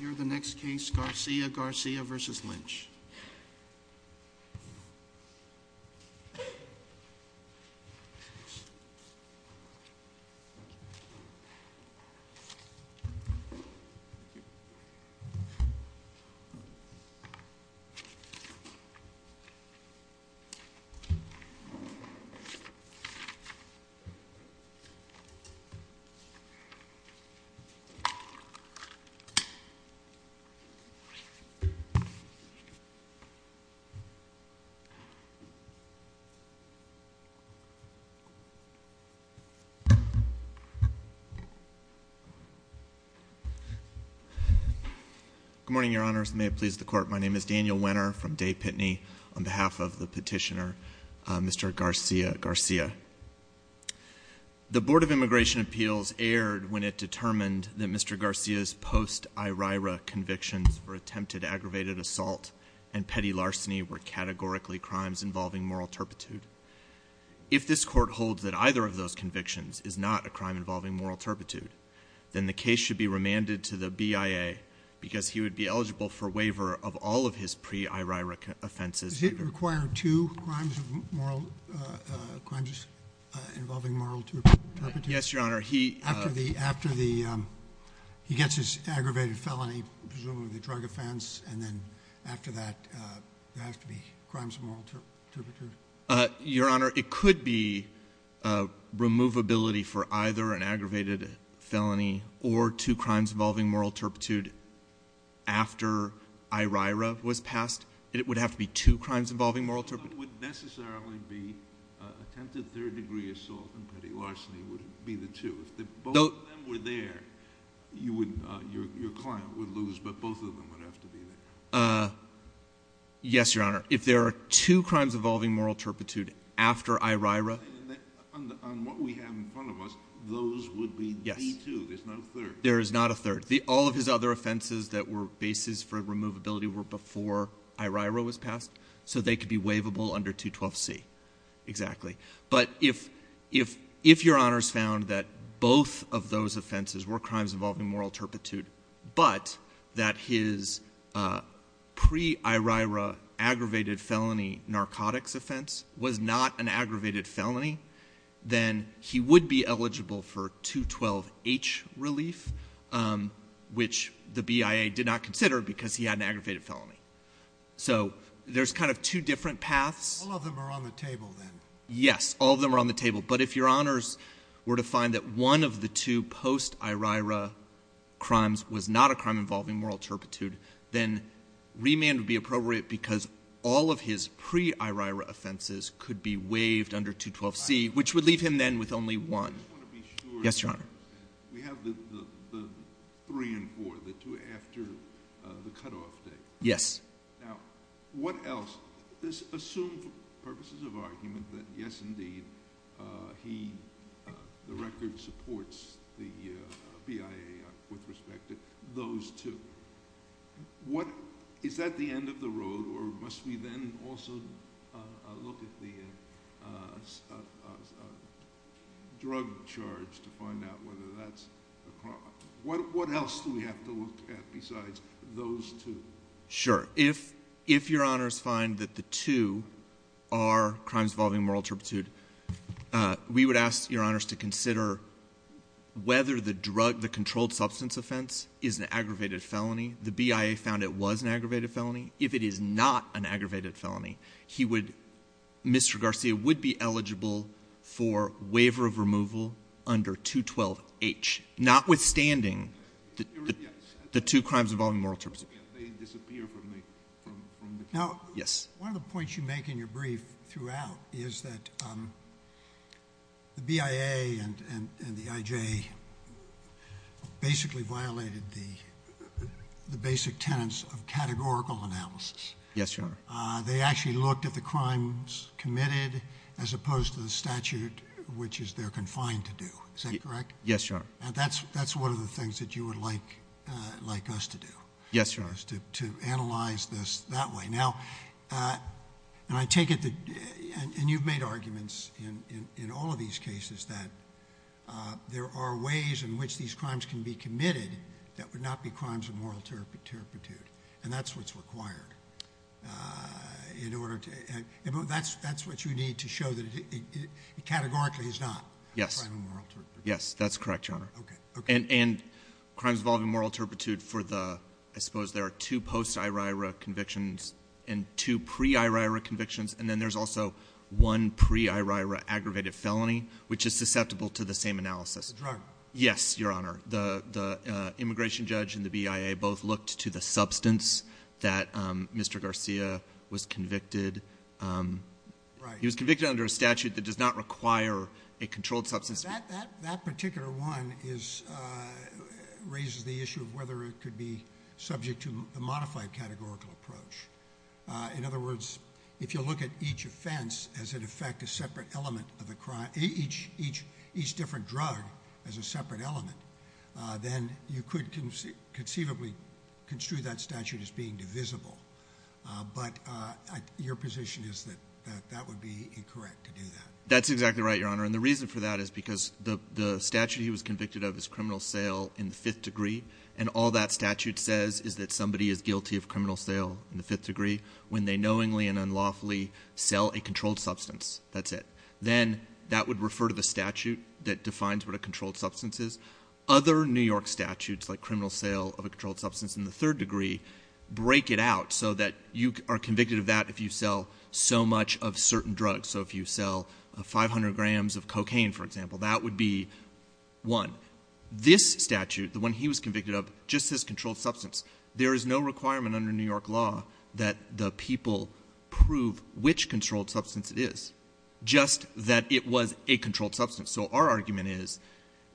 You're the next case Garcia Garcia versus Lynch Good morning your honors may it please the court my name is Daniel winner from day Pitney on behalf of the petitioner mr. Garcia Garcia the Board of Justice and the petitioner is the court's attorney and I'm here to present the case of the pre-Iraq convictions for attempted aggravated assault and petty larceny were categorically crimes involving moral turpitude if this court holds that either of those convictions is not a crime involving moral turpitude then the case should be remanded to the BIA because he would be eligible for waiver of all of his pre-Iraq offenses require two crimes of moral turpitude yes your honor he after the after the he gets his aggravated felony presumably the drug offense and then after that there has to be crimes of moral turpitude your honor it could be a removability for either an aggravated felony or two crimes involving moral turpitude after IRA was passed it would have to be two crimes involving moral turpitude would necessarily be attempted third-degree assault and petty larceny would be the two though were there you would your client would lose but both of them would have to be there yes your honor if there are two crimes involving moral turpitude after IRA on what we have in front of us those would be yes there's no third there is not a third the all of his other offenses that were basis for removability were before IRA was passed so they could be waivable under 212 C exactly but if if if your honors found that both of those offenses were crimes involving moral turpitude but that his pre IRA aggravated felony narcotics offense was not an aggravated felony then he would be eligible for 212 H relief which the BIA did not consider because he had an aggravated felony so there's kind of two different paths all of them are on the table then yes all of them are on the table but if your honors were to find that one of the two post IRA crimes was not a crime involving moral turpitude then remand would be appropriate because all of his pre IRA offenses could be waived under 212 C which would leave him then with only one yes your honor we have the three and four the two after the cutoff day yes now what else this assumed purposes of argument that yes indeed he the record supports the BIA with respect to those two what is that the end of the road or must we then also look at the drug charge to find out whether that's what what else do we have to look at besides those two sure if if your honors find that the two are crimes involving moral turpitude we would ask your honors to consider whether the drug the controlled substance offense is an aggravated felony the BIA found it was an aggravated felony if it is not an aggravated felony he would Mr. Garcia would be eligible for waiver of removal under 212 H notwithstanding that the two crimes involving moral turpitude they disappear from the now yes one of the points you make in your brief throughout is that the BIA and and and the IJ basically violated the the basic tenets of categorical analysis yes your honor they actually looked at the crimes committed as opposed to the statute which is they're confined to do is that correct yes your honor that's that's one of the things that you would like like us to do yes yours to analyze this that way now and I take it that and you've made arguments in in all of these cases that there are ways in which these crimes can be committed that would not be crimes of moral turpitude and that's what's required in order to and that's that's what you need to show that it categorically is not yes yes that's correct your honor okay and and crimes involving moral turpitude for the I suppose there are two post IRA convictions and two pre IRA convictions and then there's also one pre IRA aggravated felony which is susceptible to the same analysis drug yes your honor the the immigration judge and the BIA both looked to the substance that Mr. Garcia was convicted right he was convicted under a statute that does not require a controlled substance that that particular one is raises the issue of whether it could be subject to the modified categorical approach in other words if you look at each offense as it affect a separate element of the crime each each different drug as a separate element then you could conceive conceivably construe that statute as being divisible but your position is that that that would be incorrect to do that that's exactly right your honor and the reason for that is because the statute he was convicted of his criminal sale in the fifth degree and all that statute says is that somebody is guilty of criminal sale in the fifth degree when they knowingly and unlawfully sell a controlled substance that's it then that would refer to the statute that defines what a controlled substance is other New York statutes like criminal sale of a controlled substance in the third degree break it out so that you are convicted of that if you sell so much of certain drugs so if you sell a 500 grams of cocaine for example that would be one this statute the one he was convicted of just this controlled substance there is no requirement under New York law that the people prove which controlled substance it is just that it was a controlled substance so our argument is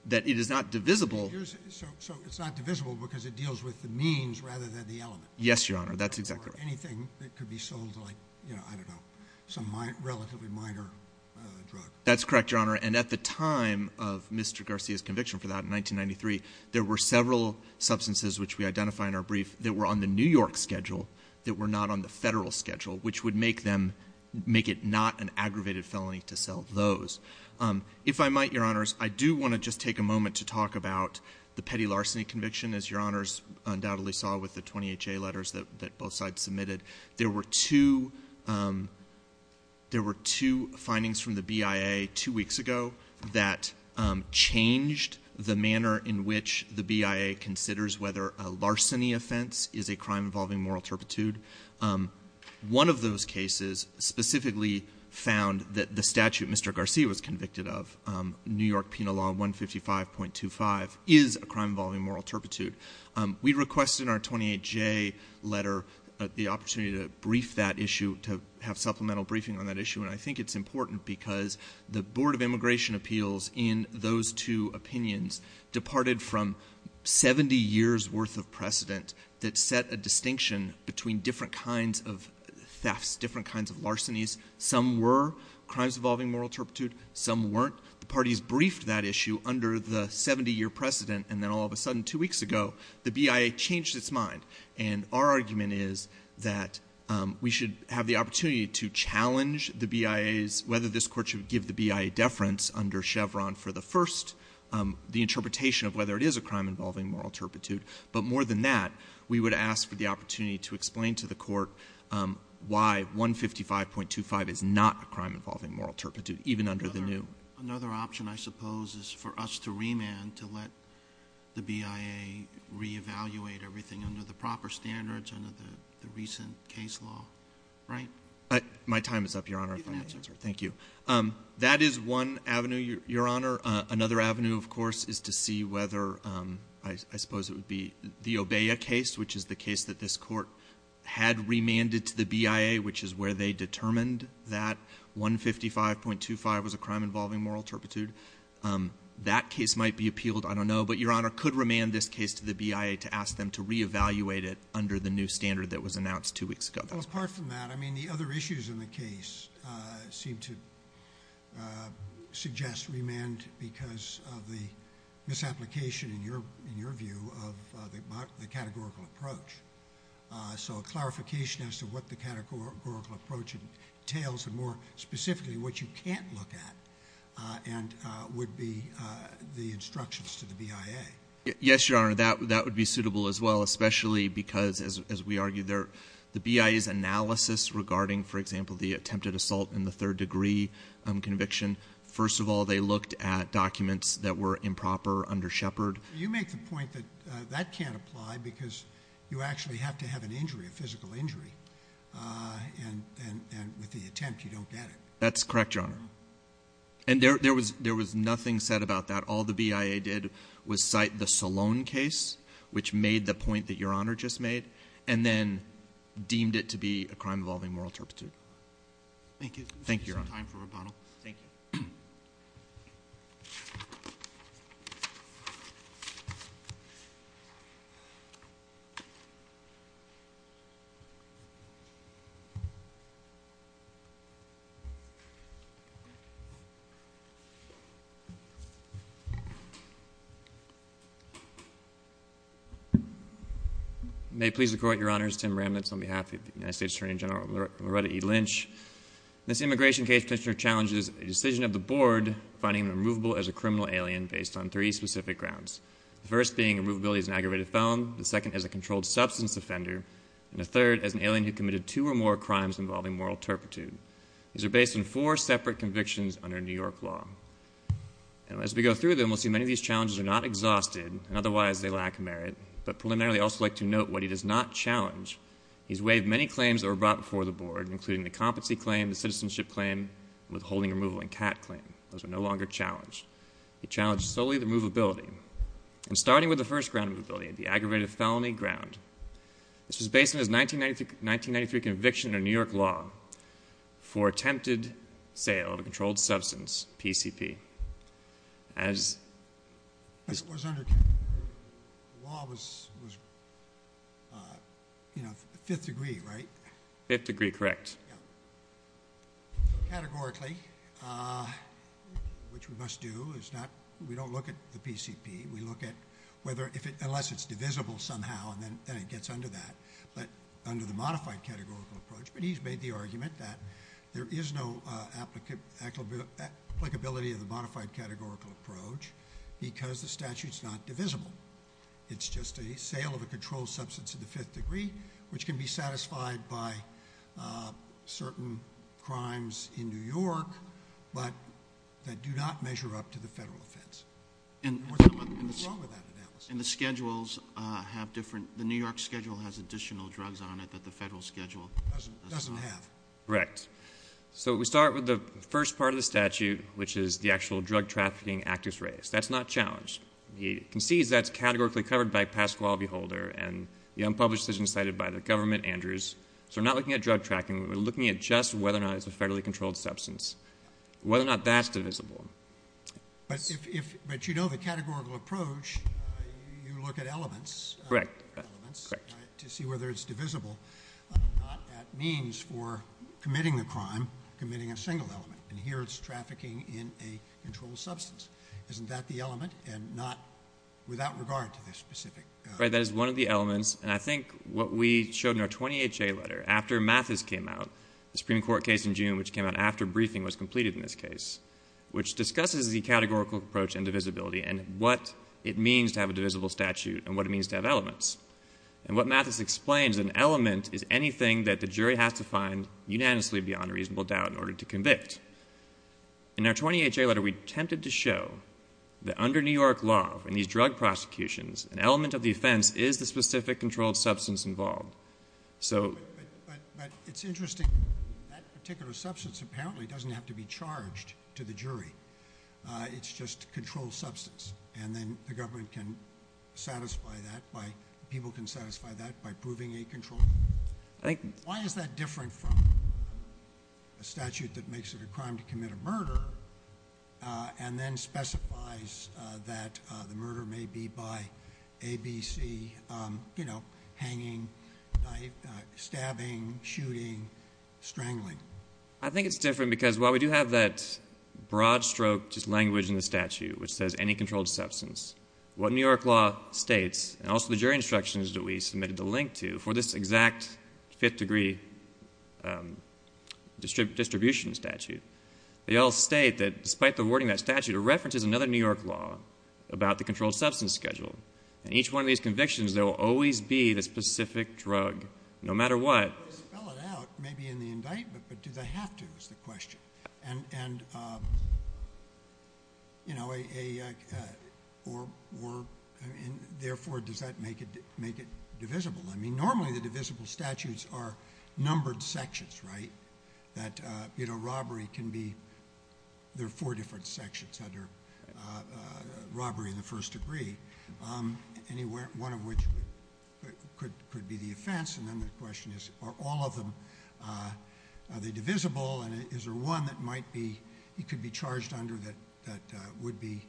that it is not divisible so it's not divisible because it deals with the means rather than the element yes your honor that's exactly anything that could be sold like you know I don't know some my relatively minor drug that's correct your honor and at the time of mr. Garcia's conviction for that in 1993 there were several substances which we would make them make it not an aggravated felony to sell those if I might your honors I do want to just take a moment to talk about the petty larceny conviction as your honors undoubtedly saw with the 28 J letters that both sides submitted there were two there were two findings from the BIA two weeks ago that changed the manner in which the BIA considers whether a larceny offense is a crime involving moral turpitude one of those cases specifically found that the statute mr. Garcia was convicted of New York penal law 155.25 is a crime involving moral turpitude we requested our 28 J letter the opportunity to brief that issue to have supplemental briefing on that issue and I think it's important because the Board of Immigration Appeals in those two opinions departed from 70 years worth of precedent that set a distinction between different kinds of thefts different kinds of larcenies some were crimes involving moral turpitude some weren't the parties briefed that issue under the 70 year precedent and then all of a sudden two weeks ago the BIA changed its mind and our argument is that we should have the opportunity to challenge the BIA is whether this court should give the BIA deference under Chevron for the first the interpretation of whether it is a crime involving moral turpitude but more than that we would ask for the opportunity to explain to the court why 155.25 is not a crime involving moral turpitude even under the new another option I suppose is for us to remand to let the BIA reevaluate everything under the proper standards under the recent case law right my time is up your honor thank you that is one avenue your honor another avenue of course is to see whether I suppose it would be the obey a case which is the case that this court had remanded to the BIA which is where they determined that 155.25 was a crime involving moral turpitude that case might be appealed I don't know but your honor could remand this case to the BIA to ask them to reevaluate it under the new standard that was announced two weeks ago that was part from that I mean the other issues in the case seem to suggest remand because of the misapplication in your in your view of the categorical approach so clarification as to what the categorical approach entails and more specifically what you can't look at and would be the instructions to the BIA yes your honor that that would be suitable as well especially because as we argue there the BIA's analysis regarding for example the attempted assault in the third degree conviction first of all they looked at documents that were improper under Shepard you make the point that that can't apply because you actually have to have an injury a physical injury and with the attempt you don't get it that's correct your honor and there was there was nothing said about that all the BIA did was cite the Salone case which made the point that your honor just made and then deemed it to be a crime involving moral turpitude thank you thank you your honor time for rebuttal thank you may please the court your honors Tim remnants on behalf of the United States Attorney General Loretta Lynch this immigration case picture challenges a decision of the board finding the movable as a criminal alien based on the grounds first being a movie is an aggravated felon the second as a controlled substance offender and a third as an alien who committed two or more crimes involving moral turpitude these are based on four separate convictions under New York law and as we go through them we'll see many of these challenges are not exhausted and otherwise they lack merit but preliminary also like to note what he does not challenge he's waived many of these claims are based on solely the mobility and starting with the first ground mobility the aggravated felony ground this was based as 1995 1993 conviction in New York law for attempted sale of a controlled substance PCP as this was under law was you know fifth degree right fifth degree correct categorically which we must do is not we don't look at the PCP we look at whether if it unless it's divisible somehow and then it gets under that but under the modified categorical approach but he's made the argument that there is no applicability applicability of the modified categorical approach because the statute's not divisible it's just a sale of a controlled substance of the fifth degree which can be satisfied by certain crimes in New York but that do not measure up to the federal offense and what's wrong with that analysis and the schedules have different the New York schedule has additional drugs on it that the federal schedule doesn't have correct so we start with the first part of the statute which is the actual drug trafficking activist race that's not challenged he concedes that's categorically covered by Pasquale Beholder and the unpublished decision cited by the government Andrews so we're not looking at drug tracking we're looking at just whether or not it's a federally controlled substance whether or not that's divisible but if but you know the categorical approach you look at elements correct to see whether it's divisible means for committing the crime committing a single element and here it's trafficking in a controlled substance isn't that the element and not without regard to this specific right that is one of the elements and I think what we showed in our twenty H.A. letter after Mathis came out the Supreme Court case in June which came out after briefing was completed in this case which discusses the categorical approach and divisibility and what it means to have a divisible statute and what it means to have elements and what Mathis explains an element is anything that the jury has to find unanimously beyond reasonable doubt in order to convict in our twenty H.A. letter we attempted to show that under New York law in these drug prosecutions an element of the offense is the specific controlled substance involved so but it's interesting that particular substance apparently doesn't have to be charged to the jury it's just controlled substance and then the government can satisfy that by people can satisfy that by proving a control I think why is that different from a statute that makes it a crime to commit a murder and then specifies that the murder may be by A.B.C. you know hanging stabbing shooting strangling I think it's different because while we do have that broad stroke just language in the statute which says any instructions that we submitted the link to for this exact fifth degree distribution statute they all state that despite the wording that statute references another New York law about the controlled substance schedule and each one of these convictions there will always be the specific drug no matter what maybe in the indictment but do they have to is the question and you know a or and therefore does that make it make it divisible I mean normally the divisible statutes are numbered sections right that you know robbery can be there are four different sections under robbery the first degree anywhere one of which could be the offense and then the question is are all of them are they divisible and is there one that might be it could be charged under that that would be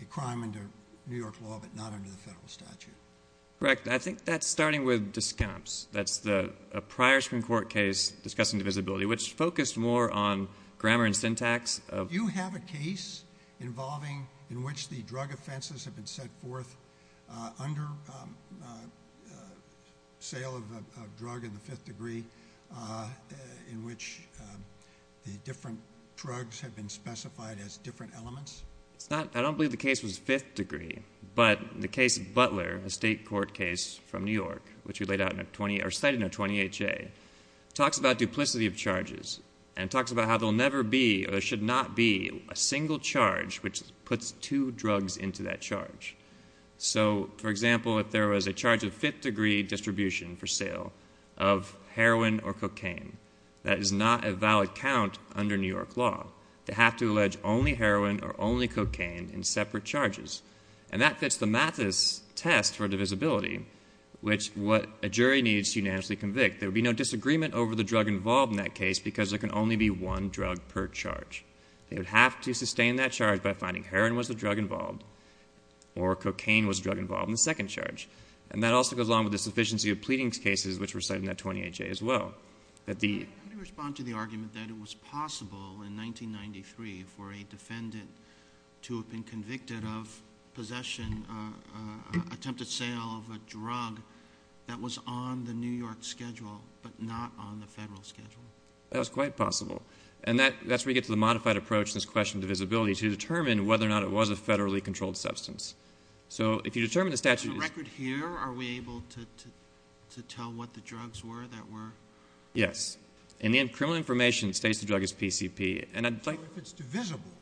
a crime under New York law but not under the federal statute correct I think that's starting with discounts that's the prior Supreme Court case discussing visibility which focused more on grammar and syntax you have a case involving in which the drug offenses have been set forth under sale of a drug in the fifth degree in which the different drugs have been specified as different elements it's not I don't believe the case was fifth degree but the case butler a state court case from New York which we laid out in a 20 or cited in a 28 J talks about duplicity of charges and talks about how they'll never be or should not be a single charge which puts two drugs into that charge so for example if there was a charge of fifth degree distribution for sale of heroin or cocaine that is not a valid count under New York law to have to only heroin or only cocaine in separate charges and that fits the math is test for divisibility which what a jury needs unanimously convict there be no disagreement over the drug involved in that case because there can only be one drug per charge they would have to sustain that charge by finding heroin was the drug involved or cocaine was drug involved in the second charge and that also goes along with the sufficiency of pleadings cases which were cited in that 28 J as well respond to the argument that it was possible in 1993 for a defendant to have been convicted of possession attempted sale of a drug that was on the New York schedule but not on the federal schedule that's quite possible and that that's where you get to the modified approach this question divisibility to determine whether or not it was a federally controlled substance so if you determine the statute here are we able to to tell what the drugs were that were yes and then criminal information states the drug is PCP and I'd like it's divisible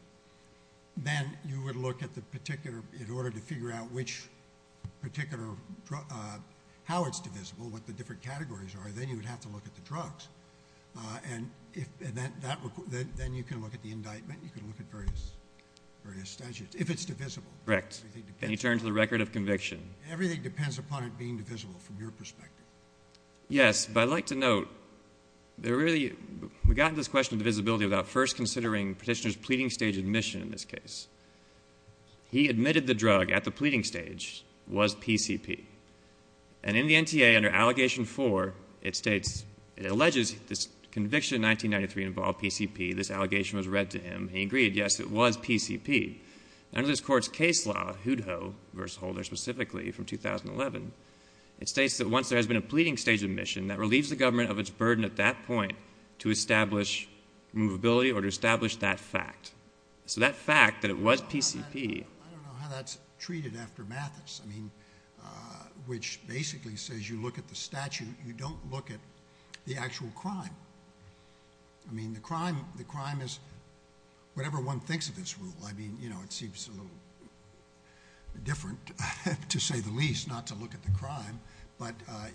then you would look at the particular in order to figure out which particular how it's divisible what the different categories are then you would have to look at the drugs and if that then you can look at the indictment you can look at various various statutes if it's divisible correct and you turn to the record of conviction everything depends upon it being divisible from your perspective yes but I'd like to note there really we got this question of visibility without first considering petitioners pleading stage admission in this case he admitted the drug at the pleading stage was PCP and in the NTA under allegation for it states it alleges this conviction 1993 involved PCP this allegation was read to him he agreed yes it was PCP under this court's case law who'd ho verse holder specifically from 2011 it states that once there has been a pleading stage admission that relieves the government of its burden at that point to establish movability or to establish that fact so that fact that it was PCP I don't know how that's treated after Mathis I mean which basically says you look at the statute you don't look at the actual crime I mean the crime the crime is whatever one thinks of this rule I mean you know it seems a little different to say the least not to look at the crime but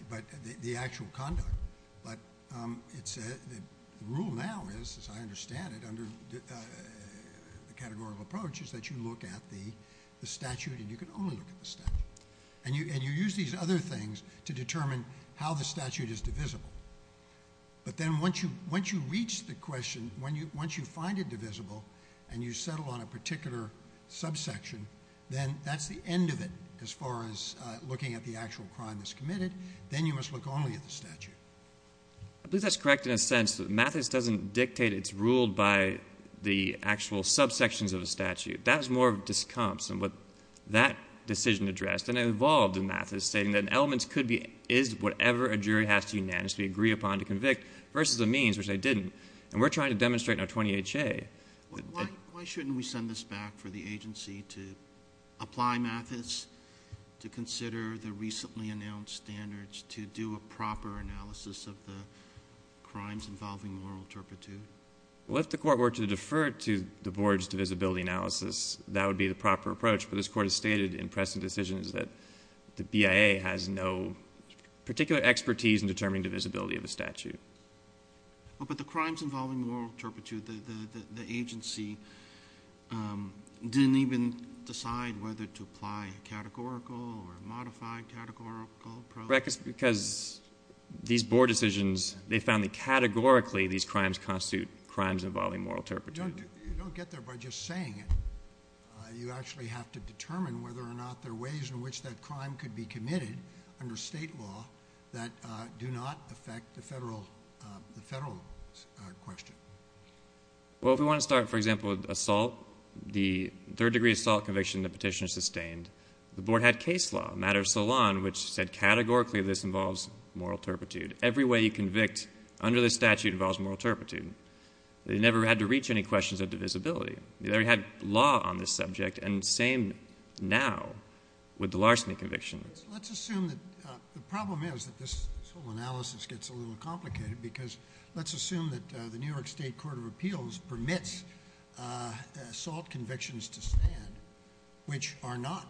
but the actual conduct but it said the rule now is as I understand it under the categorical approach is that you look at the statute and you can only look at the statute and you and you use these other things to determine how the statute is divisible but then once you once you reach the question when you once you find it divisible and you settle on a particular subsection then that's the end of it as far as looking at the actual crime that's committed then you must look only at the statute I believe that's correct in a sense that Mathis doesn't dictate it's ruled by the actual subsections of a statute that's more of discomps and what that decision addressed and involved in Mathis stating that an elements could be is whatever a jury has to unanimously agree upon to convict versus the means which they didn't and we're trying to demonstrate in our 20 HA why shouldn't we send this back for the agency to apply Mathis to consider the recently announced standards to do a proper analysis of the crimes involving moral turpitude well if the court were to defer to the boards divisibility analysis that would be the proper approach but this court has stated in pressing decisions that the BIA has no particular expertise in determining the visibility of the statute but the crimes involving moral turpitude the agency didn't even decide whether to apply categorical or modified categorical because these board decisions they found that categorically these crimes constitute crimes involving moral turpitude you don't get there by just saying it you actually have to determine whether or not there are ways in which that crime could be committed under state law that do not affect the federal question well if we want to start for example with assault the third degree assault conviction the petitioner sustained the board had case law matter of salon which said categorically this involves moral turpitude every way you convict under the statute involves moral turpitude they never had to reach any questions of divisibility you never had law on this subject and same now with the larceny convictions let's assume that the problem is that this whole analysis gets a little complicated because let's assume that the New York State Court of Appeals permits assault convictions to stand which are not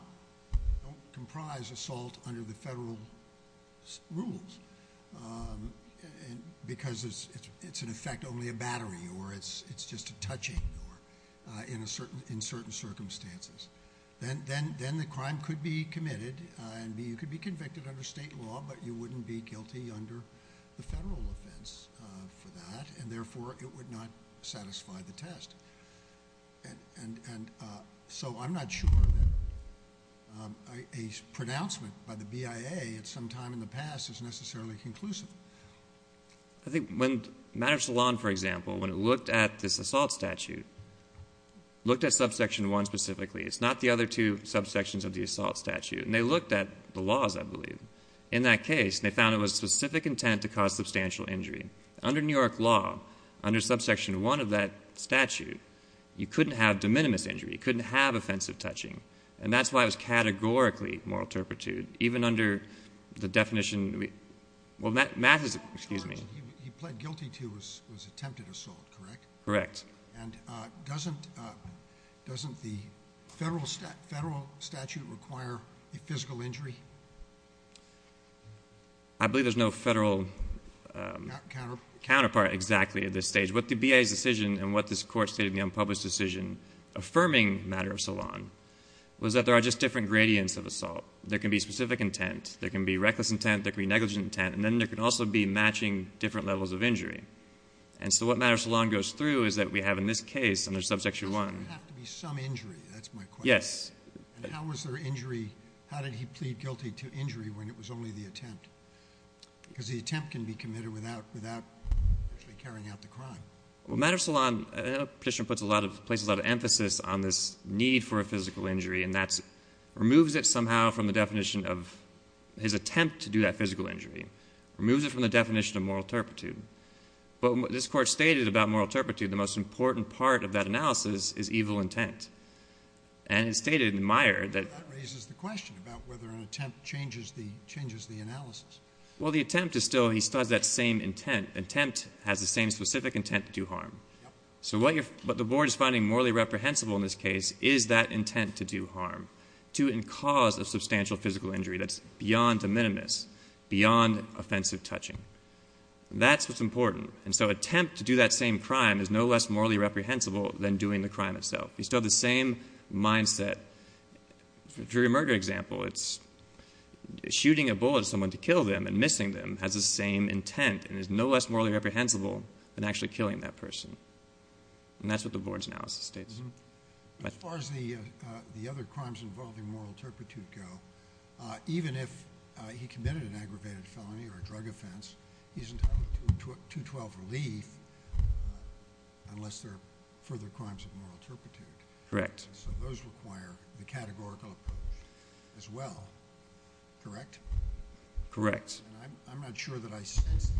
comprised assault under the federal rules because it's in effect only a battery or it's just a touching in certain circumstances then the crime could be committed and you could be convicted under state law but you wouldn't be guilty under the federal offense for that and therefore it would not satisfy the test and so I'm not sure a pronouncement by the BIA at some time in the past is necessarily conclusive I think when matters salon for example when it looked at this assault statute looked at subsection one specifically it's not the other two subsections of the assault statute and they looked at the laws I believe in that case they found it was specific intent to cause you couldn't have de minimis injury couldn't have offensive touching and that's why it was categorically moral turpitude even under the definition he pled guilty to his attempted assault correct correct and doesn't the federal statute require a physical injury I believe there's no federal counterpart exactly at this stage what the BIA's decision and what this court stated in the unpublished decision affirming matter of salon was that there are just different gradients of assault there can be specific intent there can be reckless intent there can be negligent intent and then there can also be matching different levels of injury and so what matters salon goes through is that we have in this case under subsection one there has to be some injury that's my question and how was there injury how did he plead guilty to injury when it was only the attempt because the attempt can be committed without without actually carrying out the crime well matter salon petition puts a lot of places a lot of emphasis on this need for a physical injury and that's removes it somehow from the definition of his attempt to do that physical injury removes it from the definition of moral turpitude but what this court stated about moral turpitude the most important part of that analysis is evil intent and it stated in Meyer that raises the question about whether an attempt changes the changes the analysis well the attempt is still he does that same intent attempt has the same specific intent to do harm so what you're but the board is finding morally reprehensible in this case is that intent to do harm to and cause of substantial physical injury that's beyond the minimus beyond offensive touching that's what's important and so attempt to do that same crime is no less morally reprehensible than doing the crime itself you still the same mindset for a murder example it's shooting a bullet someone to kill them and missing them has the same intent and is no less morally reprehensible than actually killing that person and that's what the board's analysis states as far as the other crimes involving moral turpitude go even if he committed an aggravated felony or a drug offense he's entitled to 212 relief unless there are further crimes of moral turpitude correct so those require the categorical approach as well correct correct I'm not sure that I sense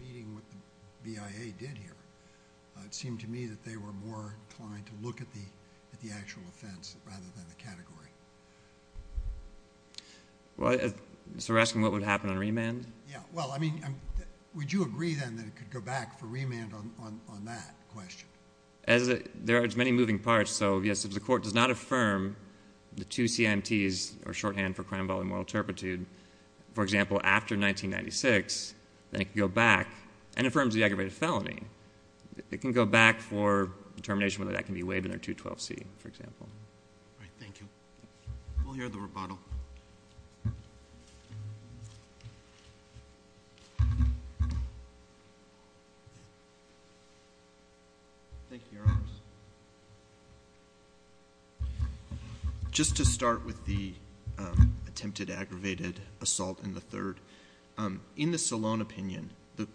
meeting with the BIA did here it seemed to me that they were more inclined to look at the actual offense rather than the category so you're asking what would happen on remand yeah well I mean would you agree then that it could go back for remand on that question there are many moving parts so yes if the court does not affirm the two CIMTs or shorthand for crime involving moral turpitude for example after 1996 then it can go back and affirms the aggravated felony it can go back for determination whether that can be waived in their 212 C for example thank you we'll hear the rebuttal thank you your honor just to start with the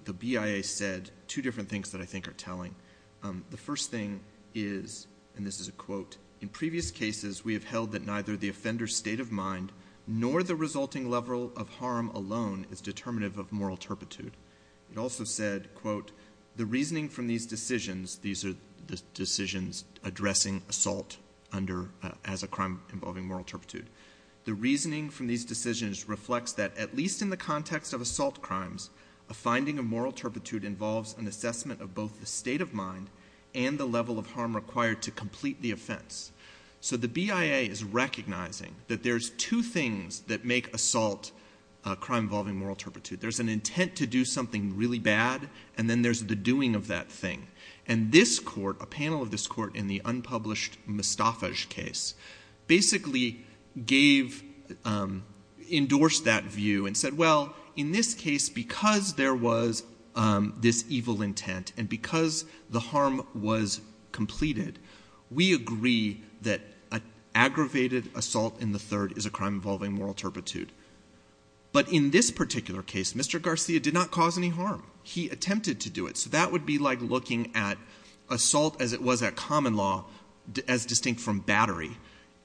the BIA said two different things that I think are telling the first thing is and this is a quote in previous cases we have held that neither the offender's state of mind nor the resulting level of harm alone is determinative of moral turpitude it also said quote the reasoning from these decisions these are the decisions addressing assault under as a crime involving moral turpitude the reasoning from these decisions reflects that at least in the context of assault crimes a finding of moral turpitude involves an assessment of both the state of mind and the level of harm required to complete the offense so the BIA is recognizing that there's two things that make assault a crime involving moral turpitude there's an intent to do something really bad and then there's the doing of that thing and this court a panel of this court in the endorsed that view and said well in this case because there was this evil intent and because the harm was completed we agree that an aggravated assault in the third is a crime involving moral turpitude but in this particular case Mr. Garcia did not cause any harm he attempted to do it so that would be like looking at assault as it was at common law as distinct from battery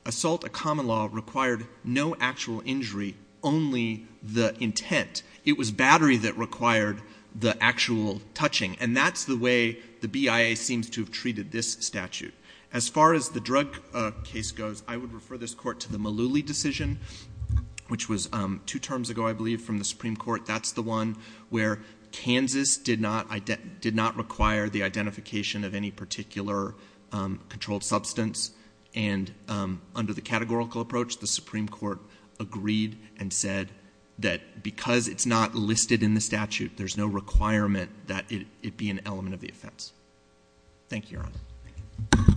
assault a common law required no actual injury only the intent it was battery that required the actual touching and that's the way the BIA seems to have treated this statute as far as the drug case goes I would refer this court to the Malooly decision which was two terms ago I believe from the Supreme Court that's the one where Kansas did not require the identification of any particular controlled substance and under the categorical approach the Supreme Court agreed and said that because it's not listed in the statute there's no requirement that it be an element of the offense. Thank you Your Honor.